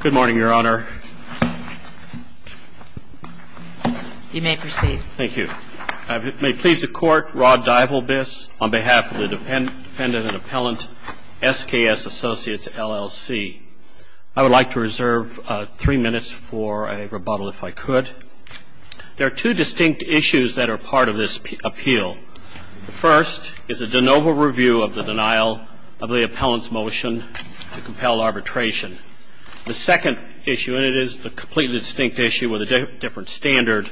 Good morning, Your Honor. You may proceed. Thank you. May it please the Court, Rod Divalbis, on behalf of the defendant and appellant, SKS Associates LLC. I would like to reserve three minutes for a rebuttal, if I could. There are two distinct issues that are part of this appeal. The first is a de novo review of the denial of the appellant's motion to compel arbitration. The second issue, and it is a completely distinct issue with a different standard,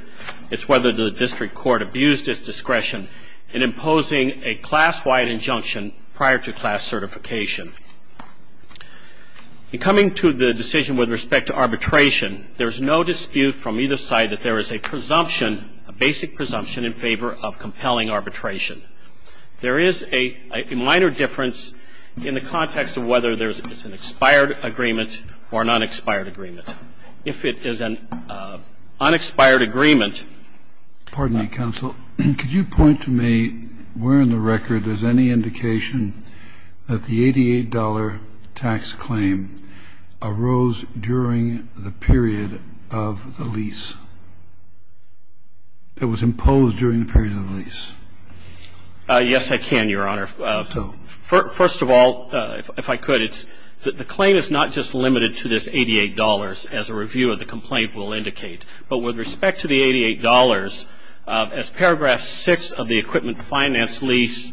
is whether the district court abused its discretion in imposing a class-wide injunction prior to class certification. In coming to the decision with respect to arbitration, there is no dispute from either side that there is a presumption, a basic presumption, in favor of compelling arbitration. There is a minor difference in the context of whether there is an expired agreement or an unexpired agreement. If it is an unexpired agreement ---- Kennedy, counsel, could you point to me where in the record there is any indication that the $88 tax claim arose during the period of the lease? It was imposed during the period of the lease. Yes, I can, Your Honor. So? First of all, if I could, it's the claim is not just limited to this $88 as a review of the complaint will indicate. But with respect to the $88, as paragraph 6 of the Equipment Finance Lease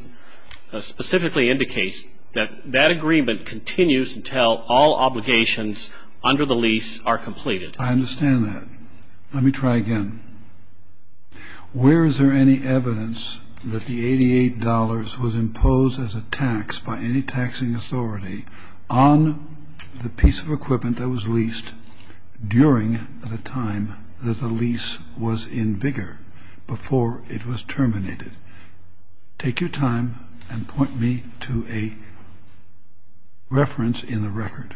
specifically indicates, that that agreement continues until all obligations under the lease are completed. I understand that. Let me try again. Where is there any evidence that the $88 was imposed as a tax by any taxing authority on the piece of equipment that was leased during the time that the lease was in vigor, before it was terminated? Take your time and point me to a reference in the record.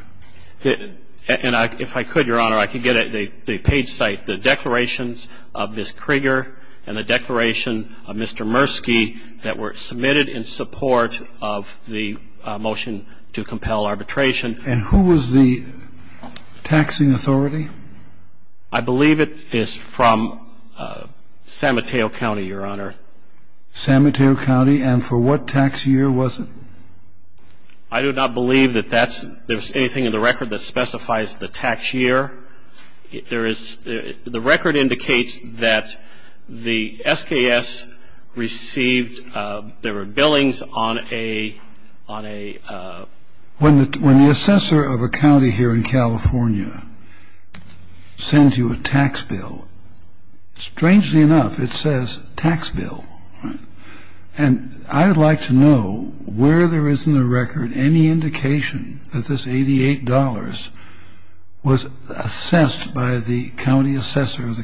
on the piece of equipment that was leased during the time that the lease was in vigor. And if I could, Your Honor, I could get a page cite, the declarations of Ms. Krieger and the declaration of Mr. Murski that were submitted in support of the motion to compel arbitration. And who was the taxing authority? I believe it is from San Mateo County, Your Honor. San Mateo County? And for what tax year was it? I do not believe that that's – there's anything in the record that specifies the tax year. There is – the record indicates that the SKS received – there were billings on a – on a – when the – when the assessor of a county here in California sends you a tax bill, strangely enough, it says tax bill. And I would like to know where there is in the record any indication that this $88 was assessed by the county assessor of the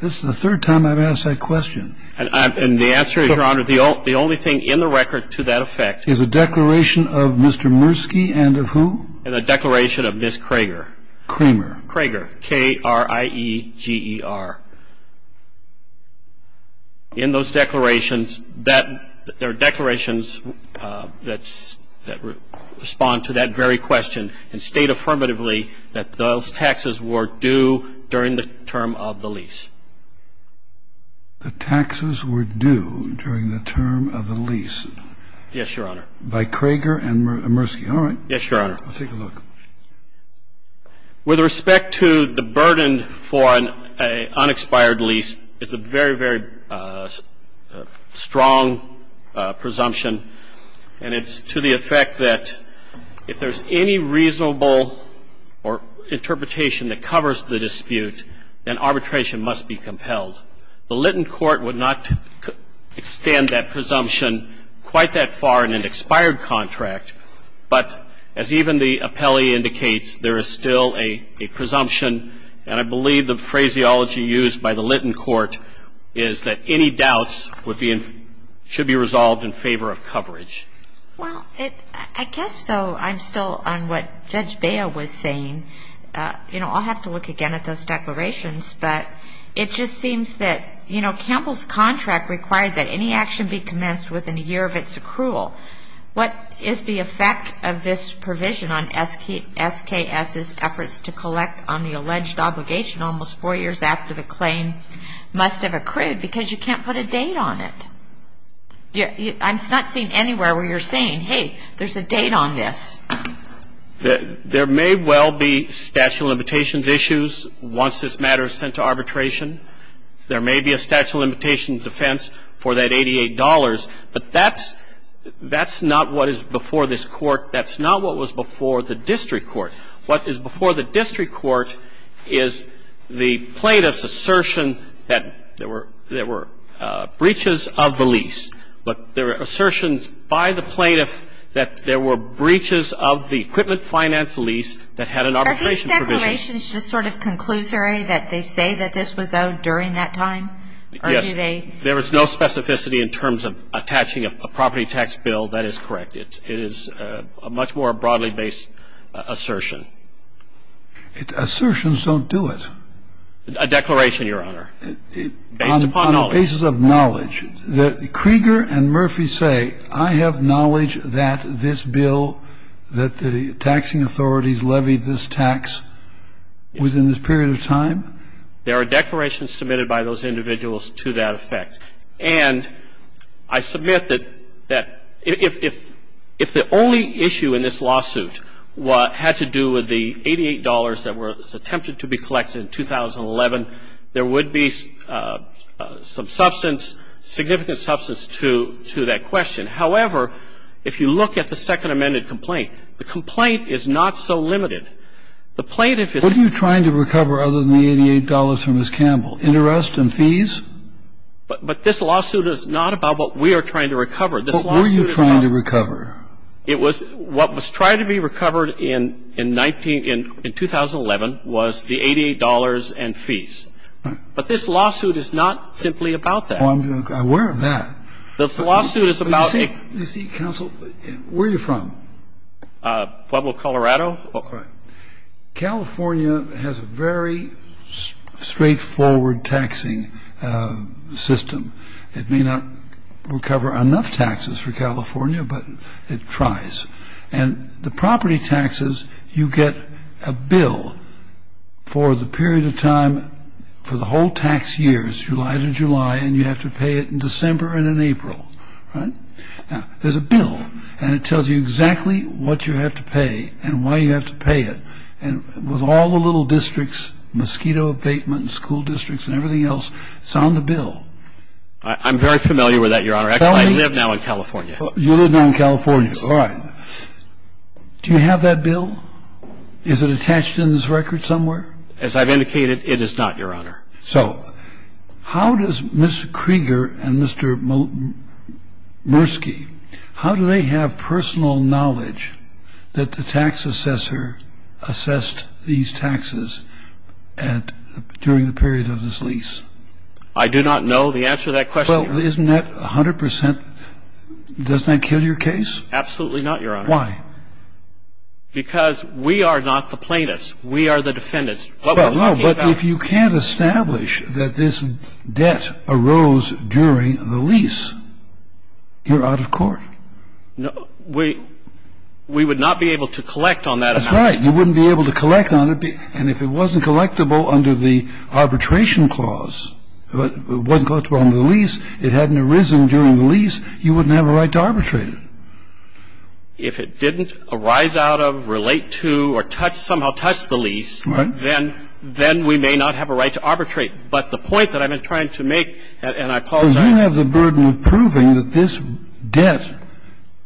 This is the third time I've asked that question. And the answer is, Your Honor, the only thing in the record to that effect Is a declaration of Mr. Murski and of who? And a declaration of Ms. Krieger. Kramer. Krieger. K-r-i-e-g-e-r. In those declarations, that – there are declarations that respond to that very question and state affirmatively that those taxes were due during the term of the lease. The taxes were due during the term of the lease? Yes, Your Honor. By Krieger and Murski. All right. Yes, Your Honor. Let's take a look. With respect to the burden for an unexpired lease, it's a very, very strong presumption. And it's to the effect that if there's any reasonable interpretation that covers the dispute, then arbitration must be compelled. The Lytton Court would not extend that presumption quite that far in an expired contract. But as even the appellee indicates, there is still a presumption, and I believe the phraseology used by the Lytton Court is that any doubts would be – should be resolved in favor of coverage. Well, I guess, though, I'm still on what Judge Bea was saying. You know, I'll have to look again at those declarations. But it just seems that, you know, Campbell's contract required that any action be commenced within a year of its accrual. What is the effect of this provision on SKS's efforts to collect on the alleged obligation almost four years after the claim must have accrued? Because you can't put a date on it. I'm not seeing anywhere where you're saying, hey, there's a date on this. There may well be statute of limitations issues once this matter is sent to arbitration. There may be a statute of limitations defense for that $88. But that's – that's not what is before this Court. That's not what was before the district court. What is before the district court is the plaintiff's assertion that there were breaches of the lease. But there are assertions by the plaintiff that there were breaches of the equipment finance lease that had an arbitration provision. Are these declarations just sort of conclusory, that they say that this was owed during that time? Or do they – Yes. There is no specificity in terms of attaching a property tax bill. That is correct. It's – it is a much more broadly based assertion. Assertions don't do it. A declaration, Your Honor, based upon knowledge. Basis of knowledge. That Krieger and Murphy say, I have knowledge that this bill, that the taxing authorities levied this tax, was in this period of time. There are declarations submitted by those individuals to that effect. And I submit that – that if – if the only issue in this lawsuit had to do with the $88 that was attempted to be collected in 2011, there would be some sort of substance, significant substance to – to that question. However, if you look at the Second Amended Complaint, the complaint is not so limited. The plaintiff is – What are you trying to recover other than the $88 from Ms. Campbell? Interest and fees? But – but this lawsuit is not about what we are trying to recover. This lawsuit is about – What were you trying to recover? It was – what was trying to be recovered in – in 19 – in 2011 was the $88 and fees. But this lawsuit is not simply about that. Oh, I'm aware of that. The lawsuit is about a – But you see – you see, counsel, where are you from? Pueblo, Colorado. California has a very straightforward taxing system. It may not recover enough taxes for California, but it tries. And the property taxes, you get a bill for the period of time – for the whole tax years, July to July, and you have to pay it in December and in April, right? Now, there's a bill, and it tells you exactly what you have to pay and why you have to pay it. And with all the little districts, mosquito abatement, school districts, and everything else, it's on the bill. I'm very familiar with that, Your Honor. Actually, I live now in California. You live now in California. All right. Do you have that bill? Is it attached in this record somewhere? As I've indicated, it is not, Your Honor. So how does Mr. Krieger and Mr. Murski, how do they have personal knowledge that the tax assessor assessed these taxes at – during the period of this lease? I do not know the answer to that question. Well, isn't that 100 percent – doesn't that kill your case? Absolutely not, Your Honor. Why? Because we are not the plaintiffs. We are the defendants. What we're talking about – Well, no, but if you can't establish that this debt arose during the lease, you're out of court. No, we – we would not be able to collect on that amount. That's right. You wouldn't be able to collect on it, and if it wasn't collectible under the arbitration clause, wasn't collectible on the lease, it hadn't arisen during the lease, you wouldn't have a right to arbitrate it. If it didn't arise out of, relate to, or touch – somehow touch the lease, then we may not have a right to arbitrate. But the point that I've been trying to make, and I apologize – Well, you have the burden of proving that this debt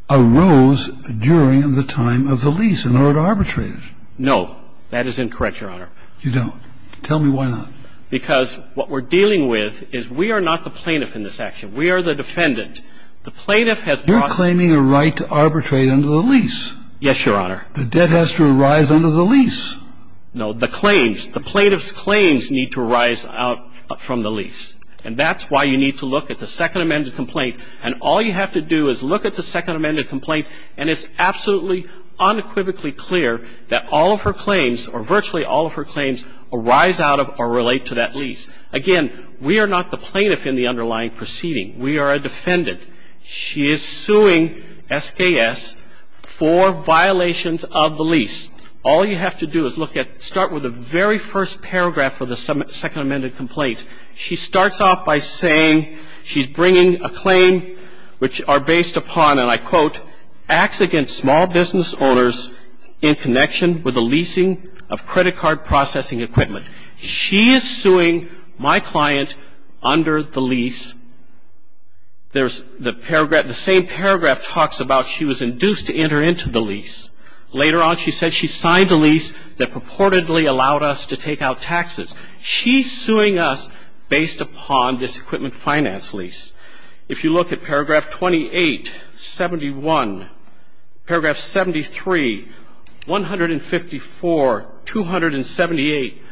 arose during the time of the lease in order to arbitrate it. No. That is incorrect, Your Honor. You don't. Tell me why not. Because what we're dealing with is we are not the plaintiff in this action. We are the defendant. The plaintiff has brought – You're claiming a right to arbitrate under the lease. Yes, Your Honor. The debt has to arise under the lease. No. The claims – the plaintiff's claims need to arise out from the lease. And that's why you need to look at the Second Amended Complaint. And all you have to do is look at the Second Amended Complaint, and it's absolutely, unequivocally clear that all of her claims, or virtually all of her claims, arise out of or relate to that lease. Again, we are not the plaintiff in the underlying proceeding. We are a defendant. She is suing SKS for violations of the lease. All you have to do is look at – start with the very first paragraph of the Second Amended Complaint. She starts off by saying she's bringing a claim which are based upon, and I quote, acts against small business owners in connection with the leasing of credit card processing equipment. She is suing my client under the lease. There's the paragraph – the same paragraph talks about she was induced to enter into the lease. Later on, she said she signed a lease that purportedly allowed us to take out taxes. She's suing us based upon this equipment finance lease. If you look at paragraph 28, 71, paragraph 73, 154, 278,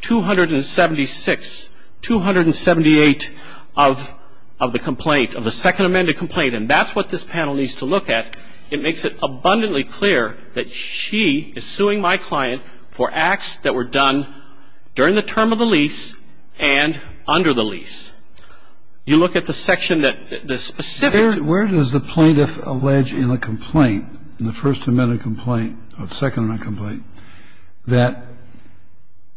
276, 278 of the complaint, of the Second Amended Complaint, and that's what this panel needs to look at. It makes it abundantly clear that she is suing my client for acts that were done during the term of the lease and under the lease. You look at the section that – the specific – Where does the plaintiff allege in a complaint, in the First Amended Complaint, or Second Amended Complaint, that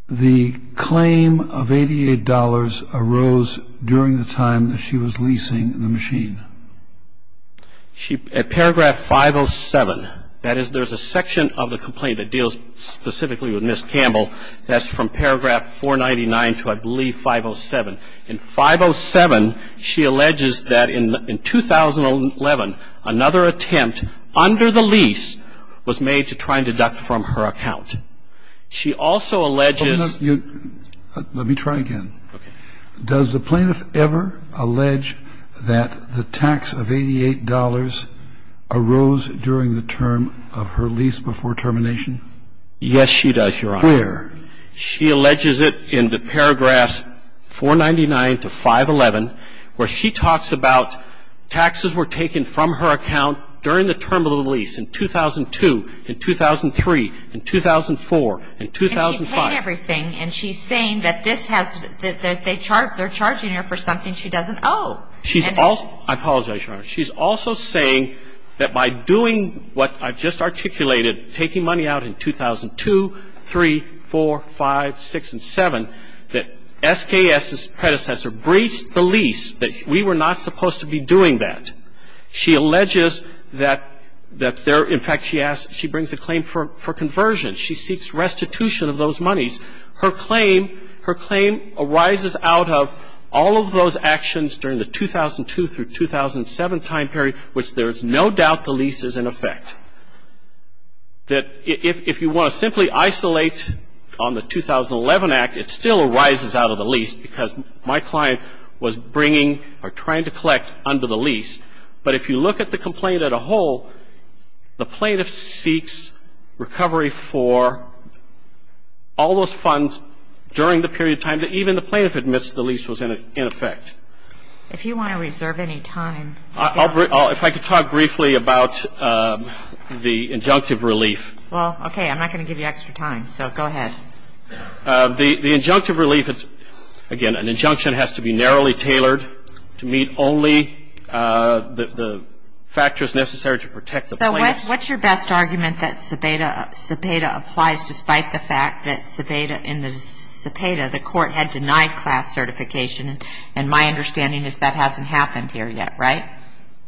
the claim of $88 arose during the time that she was leasing the machine? She – at paragraph 507. That is, there's a section of the complaint that deals specifically with Ms. Campbell. That's from paragraph 499 to, I believe, 507. In 507, she alleges that in 2011, another attempt under the lease was made to try and deduct from her account. She also alleges – Let me try again. Okay. Does the plaintiff ever allege that the tax of $88 arose during the term of her lease before termination? Yes, she does, Your Honor. Where? She alleges it in the paragraphs 499 to 511, where she talks about taxes were taken from her account during the term of the lease in 2002, in 2003, in 2004, in 2005. And she paid everything, and she's saying that this has – that they charge – they're charging her for something she doesn't owe. She's also – I apologize, Your Honor. She's also saying that by doing what I've just articulated, taking money out in 2002, 3, 4, 5, 6, and 7, that SKS's predecessor breached the lease, that we were not supposed to be doing that. She alleges that there – in fact, she asks – she brings a claim for conversion. She seeks restitution of those monies. Her claim – her claim arises out of all of those actions during the 2002 through 2007 time period, which there is no doubt the lease is in effect. That if you want to simply isolate on the 2011 Act, it still arises out of the lease because my client was bringing or trying to collect under the lease. But if you look at the complaint as a whole, the plaintiff seeks recovery for all those funds during the period of time that even the plaintiff admits the lease was in effect. If you want to reserve any time. I'll – if I could talk briefly about the injunctive relief. Well, okay. I'm not going to give you extra time, so go ahead. The injunctive relief – again, an injunction has to be narrowly tailored to meet only the factors necessary to protect the plaintiff. So what's your best argument that CEPEDA applies despite the fact that CEPEDA – in the CEPEDA, the court had denied class certification, and my understanding is that hasn't happened here yet, right?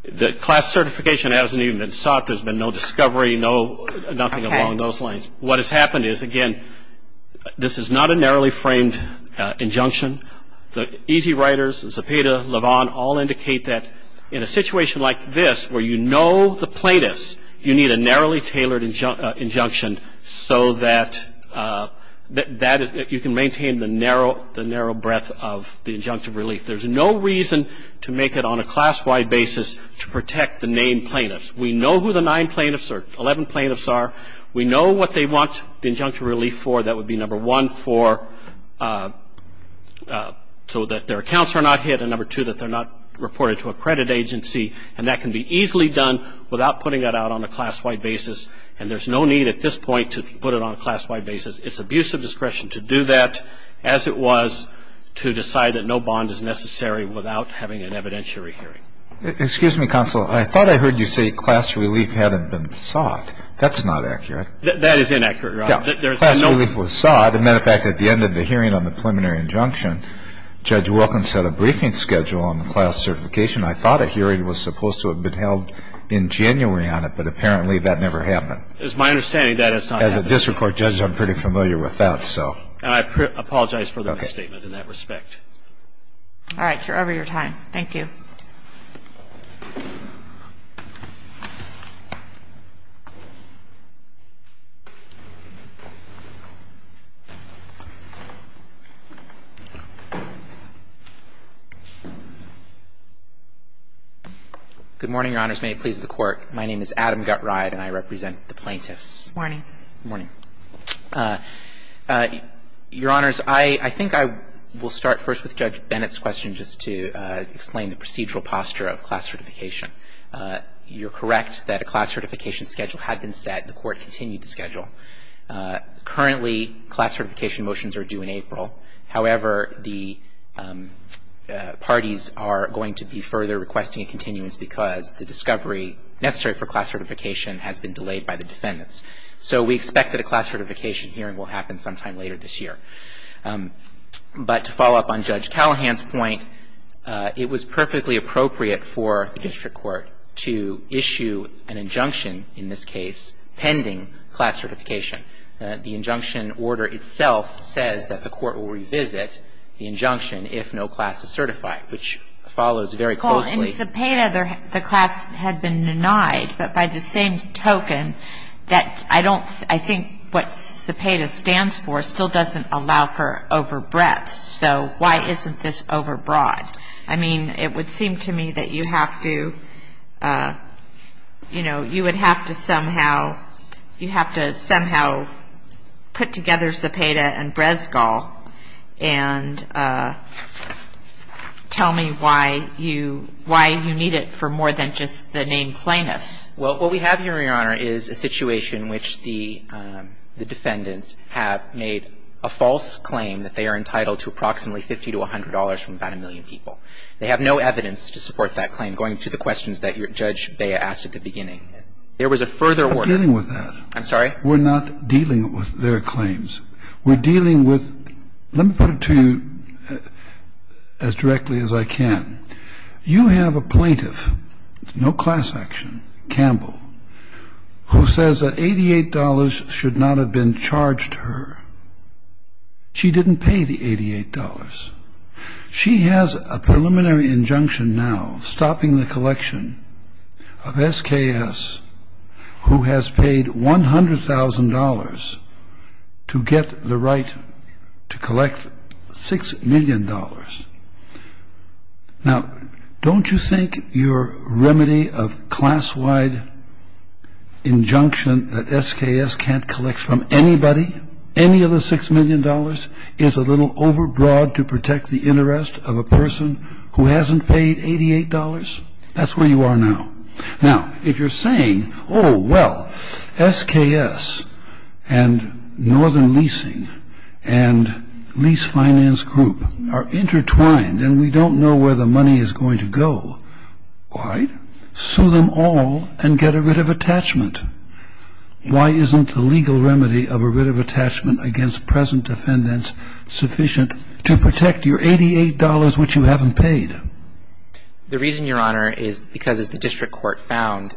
The class certification hasn't even been sought. There's been no discovery, no – nothing along those lines. What has happened is, again, this is not a narrowly framed injunction. The easy riders, CEPEDA, LeVon, all indicate that in a situation like this where you know the plaintiffs, you need a narrowly tailored injunction so that you can maintain the narrow breadth of the injunctive relief. There's no reason to make it on a class-wide basis to protect the named plaintiffs. We know who the nine plaintiffs are – 11 plaintiffs are. We know what they want the injunctive relief for. That would be number one, for – so that their accounts are not hit, and number two, that they're not reported to a credit agency. And that can be easily done without putting that out on a class-wide basis, and there's no need at this point to put it on a class-wide basis. It's abuse of discretion to do that as it was to decide that no bond is necessary without having an evidentiary hearing. Excuse me, Counsel. I thought I heard you say class relief hadn't been sought. That's not accurate. That is inaccurate, Your Honor. Class relief was sought. As a matter of fact, at the end of the hearing on the preliminary injunction, Judge Wilkins had a briefing schedule on the class certification. I thought a hearing was supposed to have been held in January on it, but apparently that never happened. As my understanding, that has not happened. As a district court judge, I'm pretty familiar with that, so. I apologize for the misstatement in that respect. All right. You're over your time. Thank you. Good morning, Your Honors. May it please the Court. My name is Adam Gutride, and I represent the plaintiffs. Good morning. Good morning. Your Honors, I think I will start first with Judge Bennett's question just to explain the procedural posture of class certification. You're correct that a class certification schedule had been set. The Court continued the schedule. Currently, class certification motions are due in April. However, the parties are going to be further requesting a continuance because the discovery necessary for class certification has been delayed by the defendants. So we expect that a class certification hearing will happen sometime later this year. But to follow up on Judge Callahan's point, it was perfectly appropriate for the district court to issue an injunction in this case pending class certification. The injunction order itself says that the court will revisit the injunction if no class is certified, which follows very closely. If Zepeda, the class had been denied, but by the same token, I think what Zepeda stands for still doesn't allow for overbreadth. So why isn't this overbroad? I mean, it would seem to me that you have to, you know, you would have to somehow put together Zepeda and Brezgal and tell me why you need it for more than just the named plaintiffs. Well, what we have here, Your Honor, is a situation which the defendants have made a false claim that they are entitled to approximately $50 to $100 from about a million people. They have no evidence to support that claim, going to the questions that Judge Bea asked at the beginning. There was a further order. We're not dealing with that. I'm sorry? We're not dealing with their claims. We're dealing with, let me put it to you as directly as I can. You have a plaintiff, no class action, Campbell, who says that $88 should not have been charged to her. She didn't pay the $88. She has a preliminary injunction now stopping the collection of SKS who has paid $100,000 to get the right to collect $6 million. Now, don't you think your remedy of class-wide injunction that SKS can't collect from anybody any of the $6 million is a little overbroad to protect the interest of a person who hasn't paid $88? That's where you are now. Now, if you're saying, oh, well, SKS and Northern Leasing and Lease Finance Group are intertwined and we don't know where the money is going to go, why sue them all and get a writ of attachment? Why isn't the legal remedy of a writ of attachment against present defendants sufficient to protect your $88 which you haven't paid? The reason, Your Honor, is because as the district court found,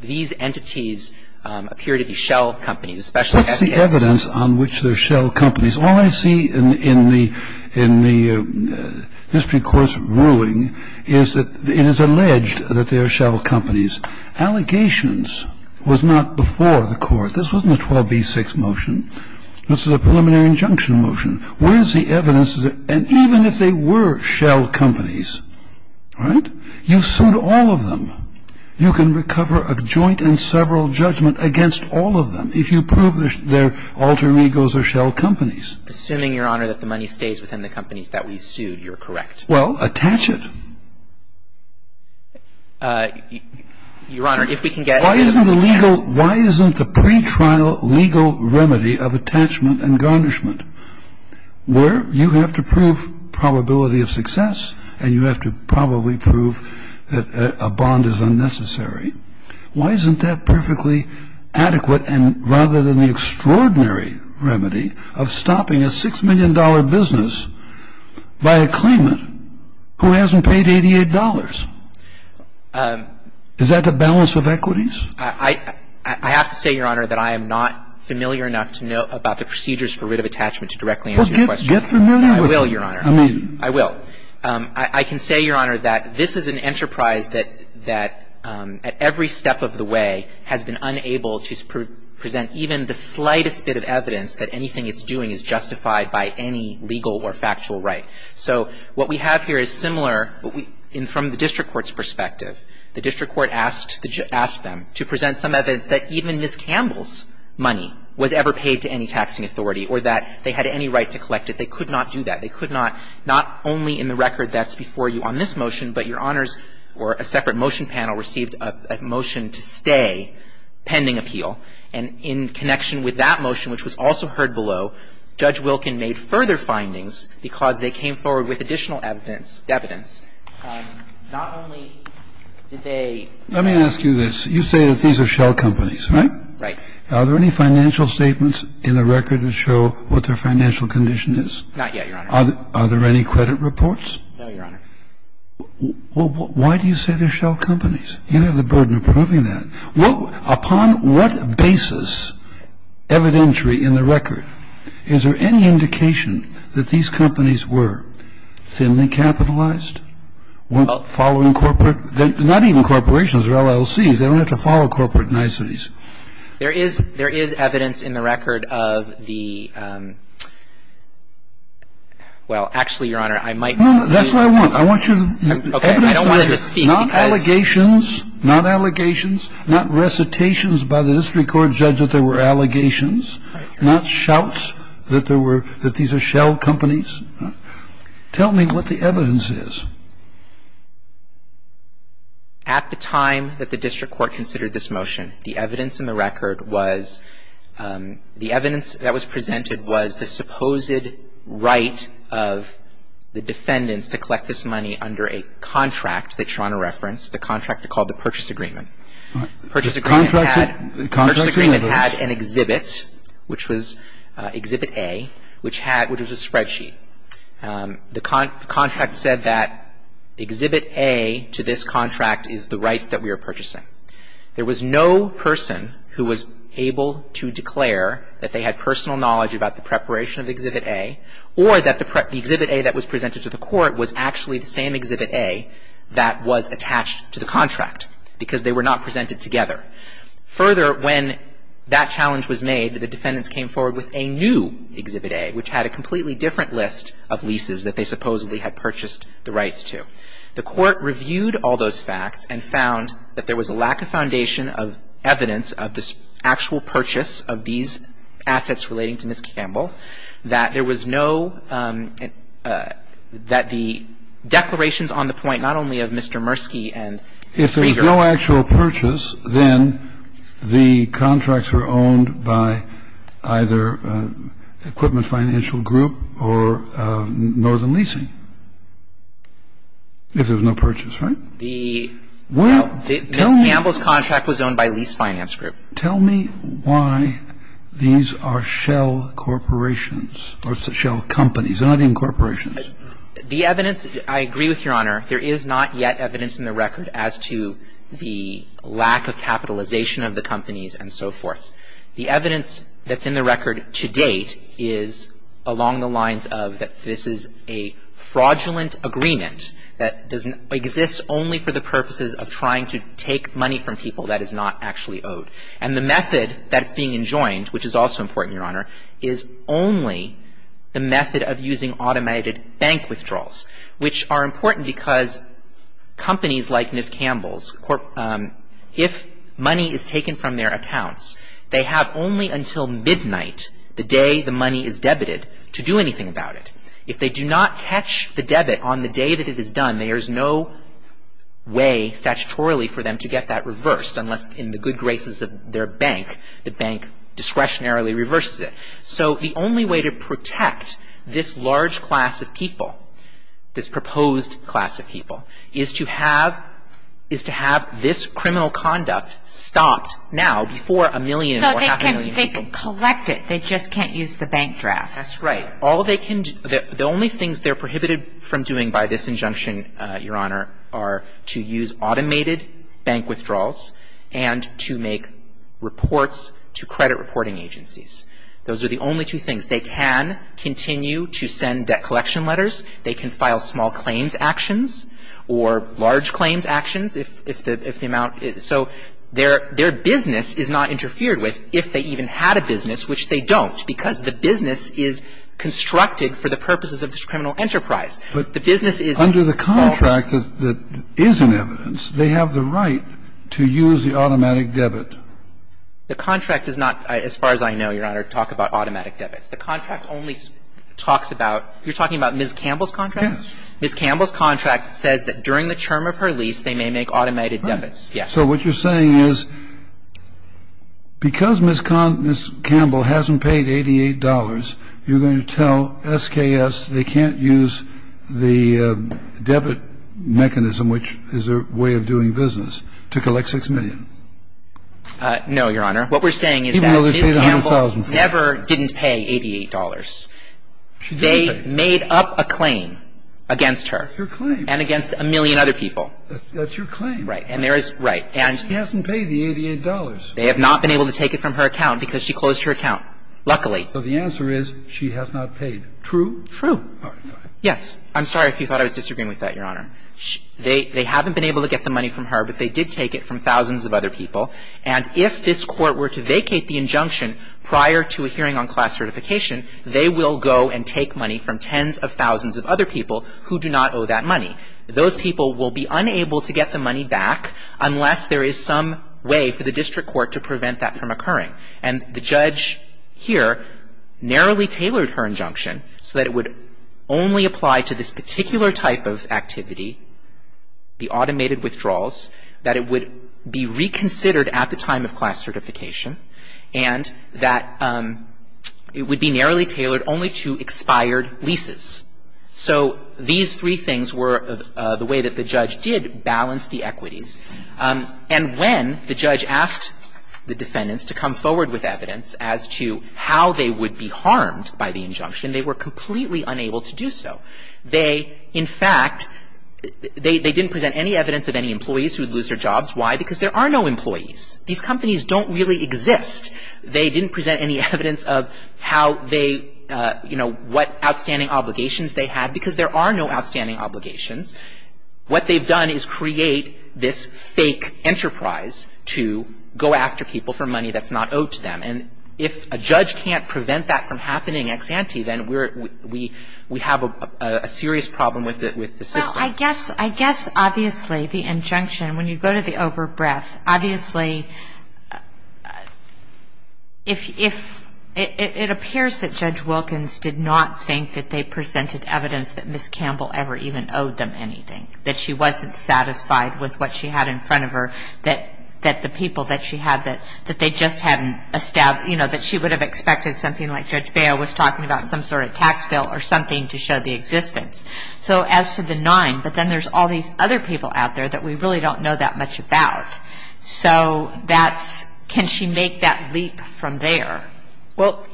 these entities appear to be shell companies, especially SKS. What's the evidence on which they're shell companies? All I see in the district court's ruling is that it is alleged that they are shell companies. Allegations was not before the court. This wasn't a 12b-6 motion. This is a preliminary injunction motion. Where's the evidence? And even if they were shell companies, right, you sued all of them. You can recover a joint and several judgment against all of them if you prove their alter egos are shell companies. Assuming, Your Honor, that the money stays within the companies that we sued, you're correct. Well, attach it. Your Honor, if we can get a writ of attachment. Why isn't the pretrial legal remedy of attachment and garnishment where you have to prove probability of success and you have to probably prove that a bond is unnecessary, why isn't that perfectly adequate rather than the extraordinary remedy of stopping a $6 million business by a claimant who hasn't paid $88? Is that the balance of equities? I have to say, Your Honor, that I am not familiar enough to know about the procedures for writ of attachment to directly answer your question. Well, get familiar with it. I will, Your Honor. I will. I can say, Your Honor, that this is an enterprise that at every step of the way has been unable to present even the slightest bit of evidence that anything it's doing is justified by any legal or factual right. So what we have here is similar from the district court's perspective. The district court asked them to present some evidence that even Ms. Campbell's money was ever paid to any taxing authority or that they had any right to collect it. They could not do that. They could not. Not only in the record that's before you on this motion, but Your Honors, a separate motion panel received a motion to stay pending appeal. And in connection with that motion, which was also heard below, Judge Wilkin made further findings because they came forward with additional evidence. Not only did they... Let me ask you this. You say that these are shell companies, right? Right. Are there any financial statements in the record that show what their financial condition is? Not yet, Your Honor. Are there any credit reports? No, Your Honor. Why do you say they're shell companies? You have the burden of proving that. Upon what basis evidentiary in the record is there any indication that these companies were thinly capitalized? Following corporate... They don't have to follow corporate niceties. There is evidence in the record of the... Well, actually, Your Honor, I might... That's what I want. I want you to... Okay. I don't want him to speak because... Not allegations. Not allegations. Not recitations by the district court judge that there were allegations. Not shouts that these are shell companies. Tell me what the evidence is. At the time that the district court considered this motion, the evidence in the record was... The evidence that was presented was the supposed right of the defendants to collect this money under a contract that Your Honor referenced, the contract called the Purchase Agreement. The Purchase Agreement had an exhibit, which was Exhibit A, which was a spreadsheet. The contract said that Exhibit A to this contract is the rights that we are purchasing. There was no person who was able to declare that they had personal knowledge about the preparation of Exhibit A or that the Exhibit A that was presented to the court was actually the same Exhibit A that was attached to the contract because they were not presented together. Further, when that challenge was made, the defendants came forward with a new Exhibit A, which had a completely different list of leases that they supposedly had purchased the rights to. The court reviewed all those facts and found that there was a lack of foundation of evidence of this actual purchase of these assets relating to Ms. Campbell, that there was no... that the declarations on the point not only of Mr. Murski and... If there was no actual purchase, then the contracts were owned by either Equipment Financial Group or Northern Leasing. If there was no purchase, right? The... Well, tell me... Ms. Campbell's contract was owned by Lease Finance Group. Tell me why these are shell corporations or shell companies, they're not even corporations. The evidence, I agree with Your Honor, there is not yet evidence in the record as to the lack of capitalization of the companies and so forth. The evidence that's in the record to date is along the lines of that this is a fraudulent agreement that doesn't exist only for the purposes of trying to take money from people that is not actually owed. And the method that's being enjoined, which is also important, Your Honor, is only the method of using automated bank withdrawals, which are important because companies like Ms. Campbell's if money is taken from their accounts, they have only until midnight, the day the money is debited, to do anything about it. If they do not catch the debit on the day that it is done, there is no way statutorily for them to get that reversed unless in the good graces of their bank, the bank discretionarily reverses it. So the only way to protect this large class of people, this proposed class of people, is to have this criminal conduct stopped now before a million or half a million people... And they just can't use the bank drafts. That's right. The only things they're prohibited from doing by this injunction, Your Honor, are to use automated bank withdrawals and to make reports to credit reporting agencies. Those are the only two things. They can continue to send debt collection letters. They can file small claims actions or large claims actions if the amount... So their business is not interfered with if they even had a business, which they don't because the business is constructed for the purposes of this criminal enterprise. The business is... Under the contract that is in evidence, they have the right to use the automatic debit. The contract does not, as far as I know, Your Honor, talk about automatic debits. The contract only talks about... You're talking about Ms. Campbell's contract? Yes. Ms. Campbell's contract says that during the term of her lease, they may make automated debits. Yes. So what you're saying is because Ms. Campbell hasn't paid $88, you're going to tell SKS they can't use the debit mechanism, which is their way of doing business, to collect $6 million? No, Your Honor. What we're saying is that Ms. Campbell never didn't pay $88. She did pay. They made up a claim against her. That's your claim. And against a million other people. That's your claim. Right. And there is... Right. She hasn't paid the $88. They have not been able to take it from her account because she closed her account, luckily. So the answer is she has not paid. True? True. All right. Fine. Yes. I'm sorry if you thought I was disagreeing with that, Your Honor. They haven't been able to get the money from her, but they did take it from thousands of other people. And if this Court were to vacate the injunction prior to a hearing on class certification, they will go and take money from tens of thousands of other people who do not owe that money. Those people will be unable to get the money back unless there is some way for the District Court to prevent that from occurring. And the judge here narrowly tailored her injunction so that it would only apply to this particular type of activity, the automated withdrawals, that it would be reconsidered at the time of class certification and that it would be narrowly tailored only to expired leases. So these three things were the way that the judge did balance the equities. And when the judge asked the defendants to come forward with evidence as to how they would be harmed by the injunction, they were completely unable to do so. They, in fact, they didn't present any evidence of any employees who would lose their jobs. Why? Because there are no employees. These companies don't really exist. They didn't present any evidence of how they, you know, what outstanding obligations they had because there are no outstanding obligations. What they've done is create this fake enterprise to go after people for money that's not owed to them. And if a judge can't prevent that from happening, ex ante, then we have a serious problem with the system. Well, I guess obviously the injunction, when you go to the overbreath, obviously if it appears that Judge Wilkins did not think that they presented evidence that Ms. Campbell ever even owed them anything, that she wasn't satisfied with what she had in front of her, that the people that she had, that they just hadn't established, you know, that she would have expected something like Judge Baio was talking about some sort of tax bill or something to show the existence. So as to the nine, but then there's all these other people out there that we really don't know that much about. So that's, can she make that leap from there? Well,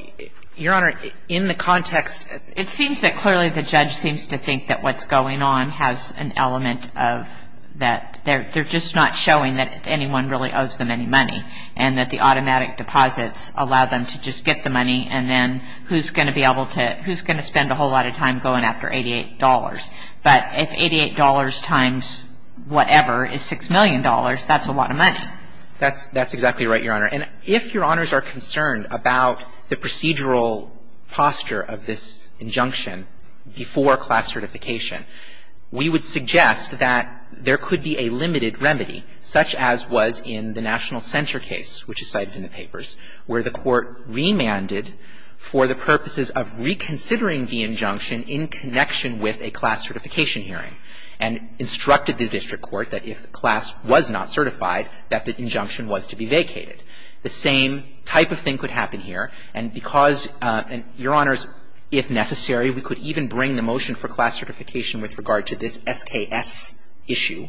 Your Honor, in the context, it seems that clearly the judge seems to think that what's going on has an element of that they're just not showing that anyone really owes them any money and that the automatic deposits allow them to just get the money and then who's going to be able to, who's going to spend a whole lot of time going after $88? But if $88 times whatever is $6 million, that's a lot of money. That's, that's exactly right, Your Honor. And if Your Honors are concerned about the procedural posture of this injunction before class certification, we would suggest that there could be a limited remedy such as was in the National Center case, which is cited in the papers, where the court remanded for the purposes of reconsidering the injunction in connection with a class certification hearing and instructed the district court that if class was not certified that the injunction was to be vacated. The same type of thing could happen here and because, Your Honors, if necessary, we could even bring the motion for class certification with regard to this SKS issue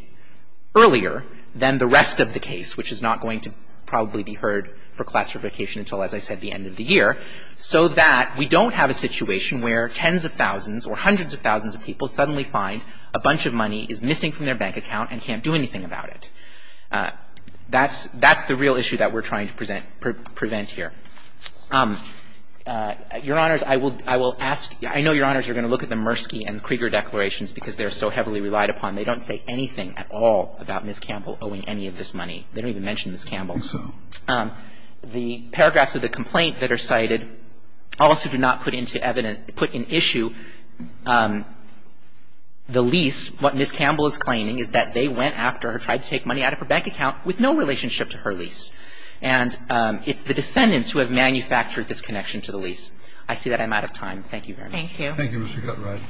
earlier than the rest of the case, which is not going to probably be heard for class certification until, as I said, the end of the year, so that we don't have a situation where tens of thousands or hundreds of thousands of people suddenly find a bunch of money is missing from their bank account and can't do anything about it. That's, that's the real issue that we're trying to present, prevent here. Your Honors, I will, I will ask, I know, Your Honors, you're going to look at the Mursky and Krieger declarations because they're so heavily relied upon. They don't say anything at all about Ms. Campbell owing any of this money. They don't even mention Ms. Campbell. The paragraphs of the complaint that are cited also do not put into evidence, put in issue the lease. What Ms. Campbell is claiming is that they went after her, tried to take money out of her bank account with no relationship to her lease. And it's the defendants who have manufactured this connection to the lease. I see that I'm out of time. Thank you very much. Thank you. Thank you, Mr. Cutright.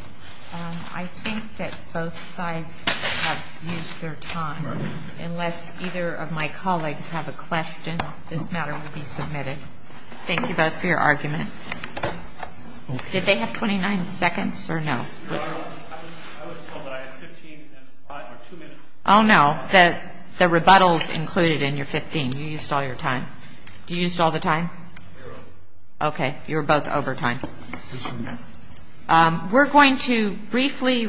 I think that both sides have used their time. Right. Unless either of my colleagues have a question, this matter will be submitted. Thank you both for your argument. Did they have 29 seconds or no? I was told that I had 15 or 2 minutes. Oh, no. The rebuttal is included in your 15. You used all your time. Did you use all the time? We were over. Okay. You were both over time. We're going to briefly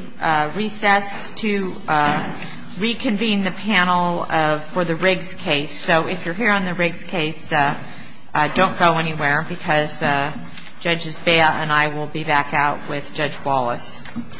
recess to reconvene the panel for the Riggs case. So if you're here on the Riggs case, don't go anywhere because Judge Zbeya and I will be back out with Judge Wallace. All rise. Court is at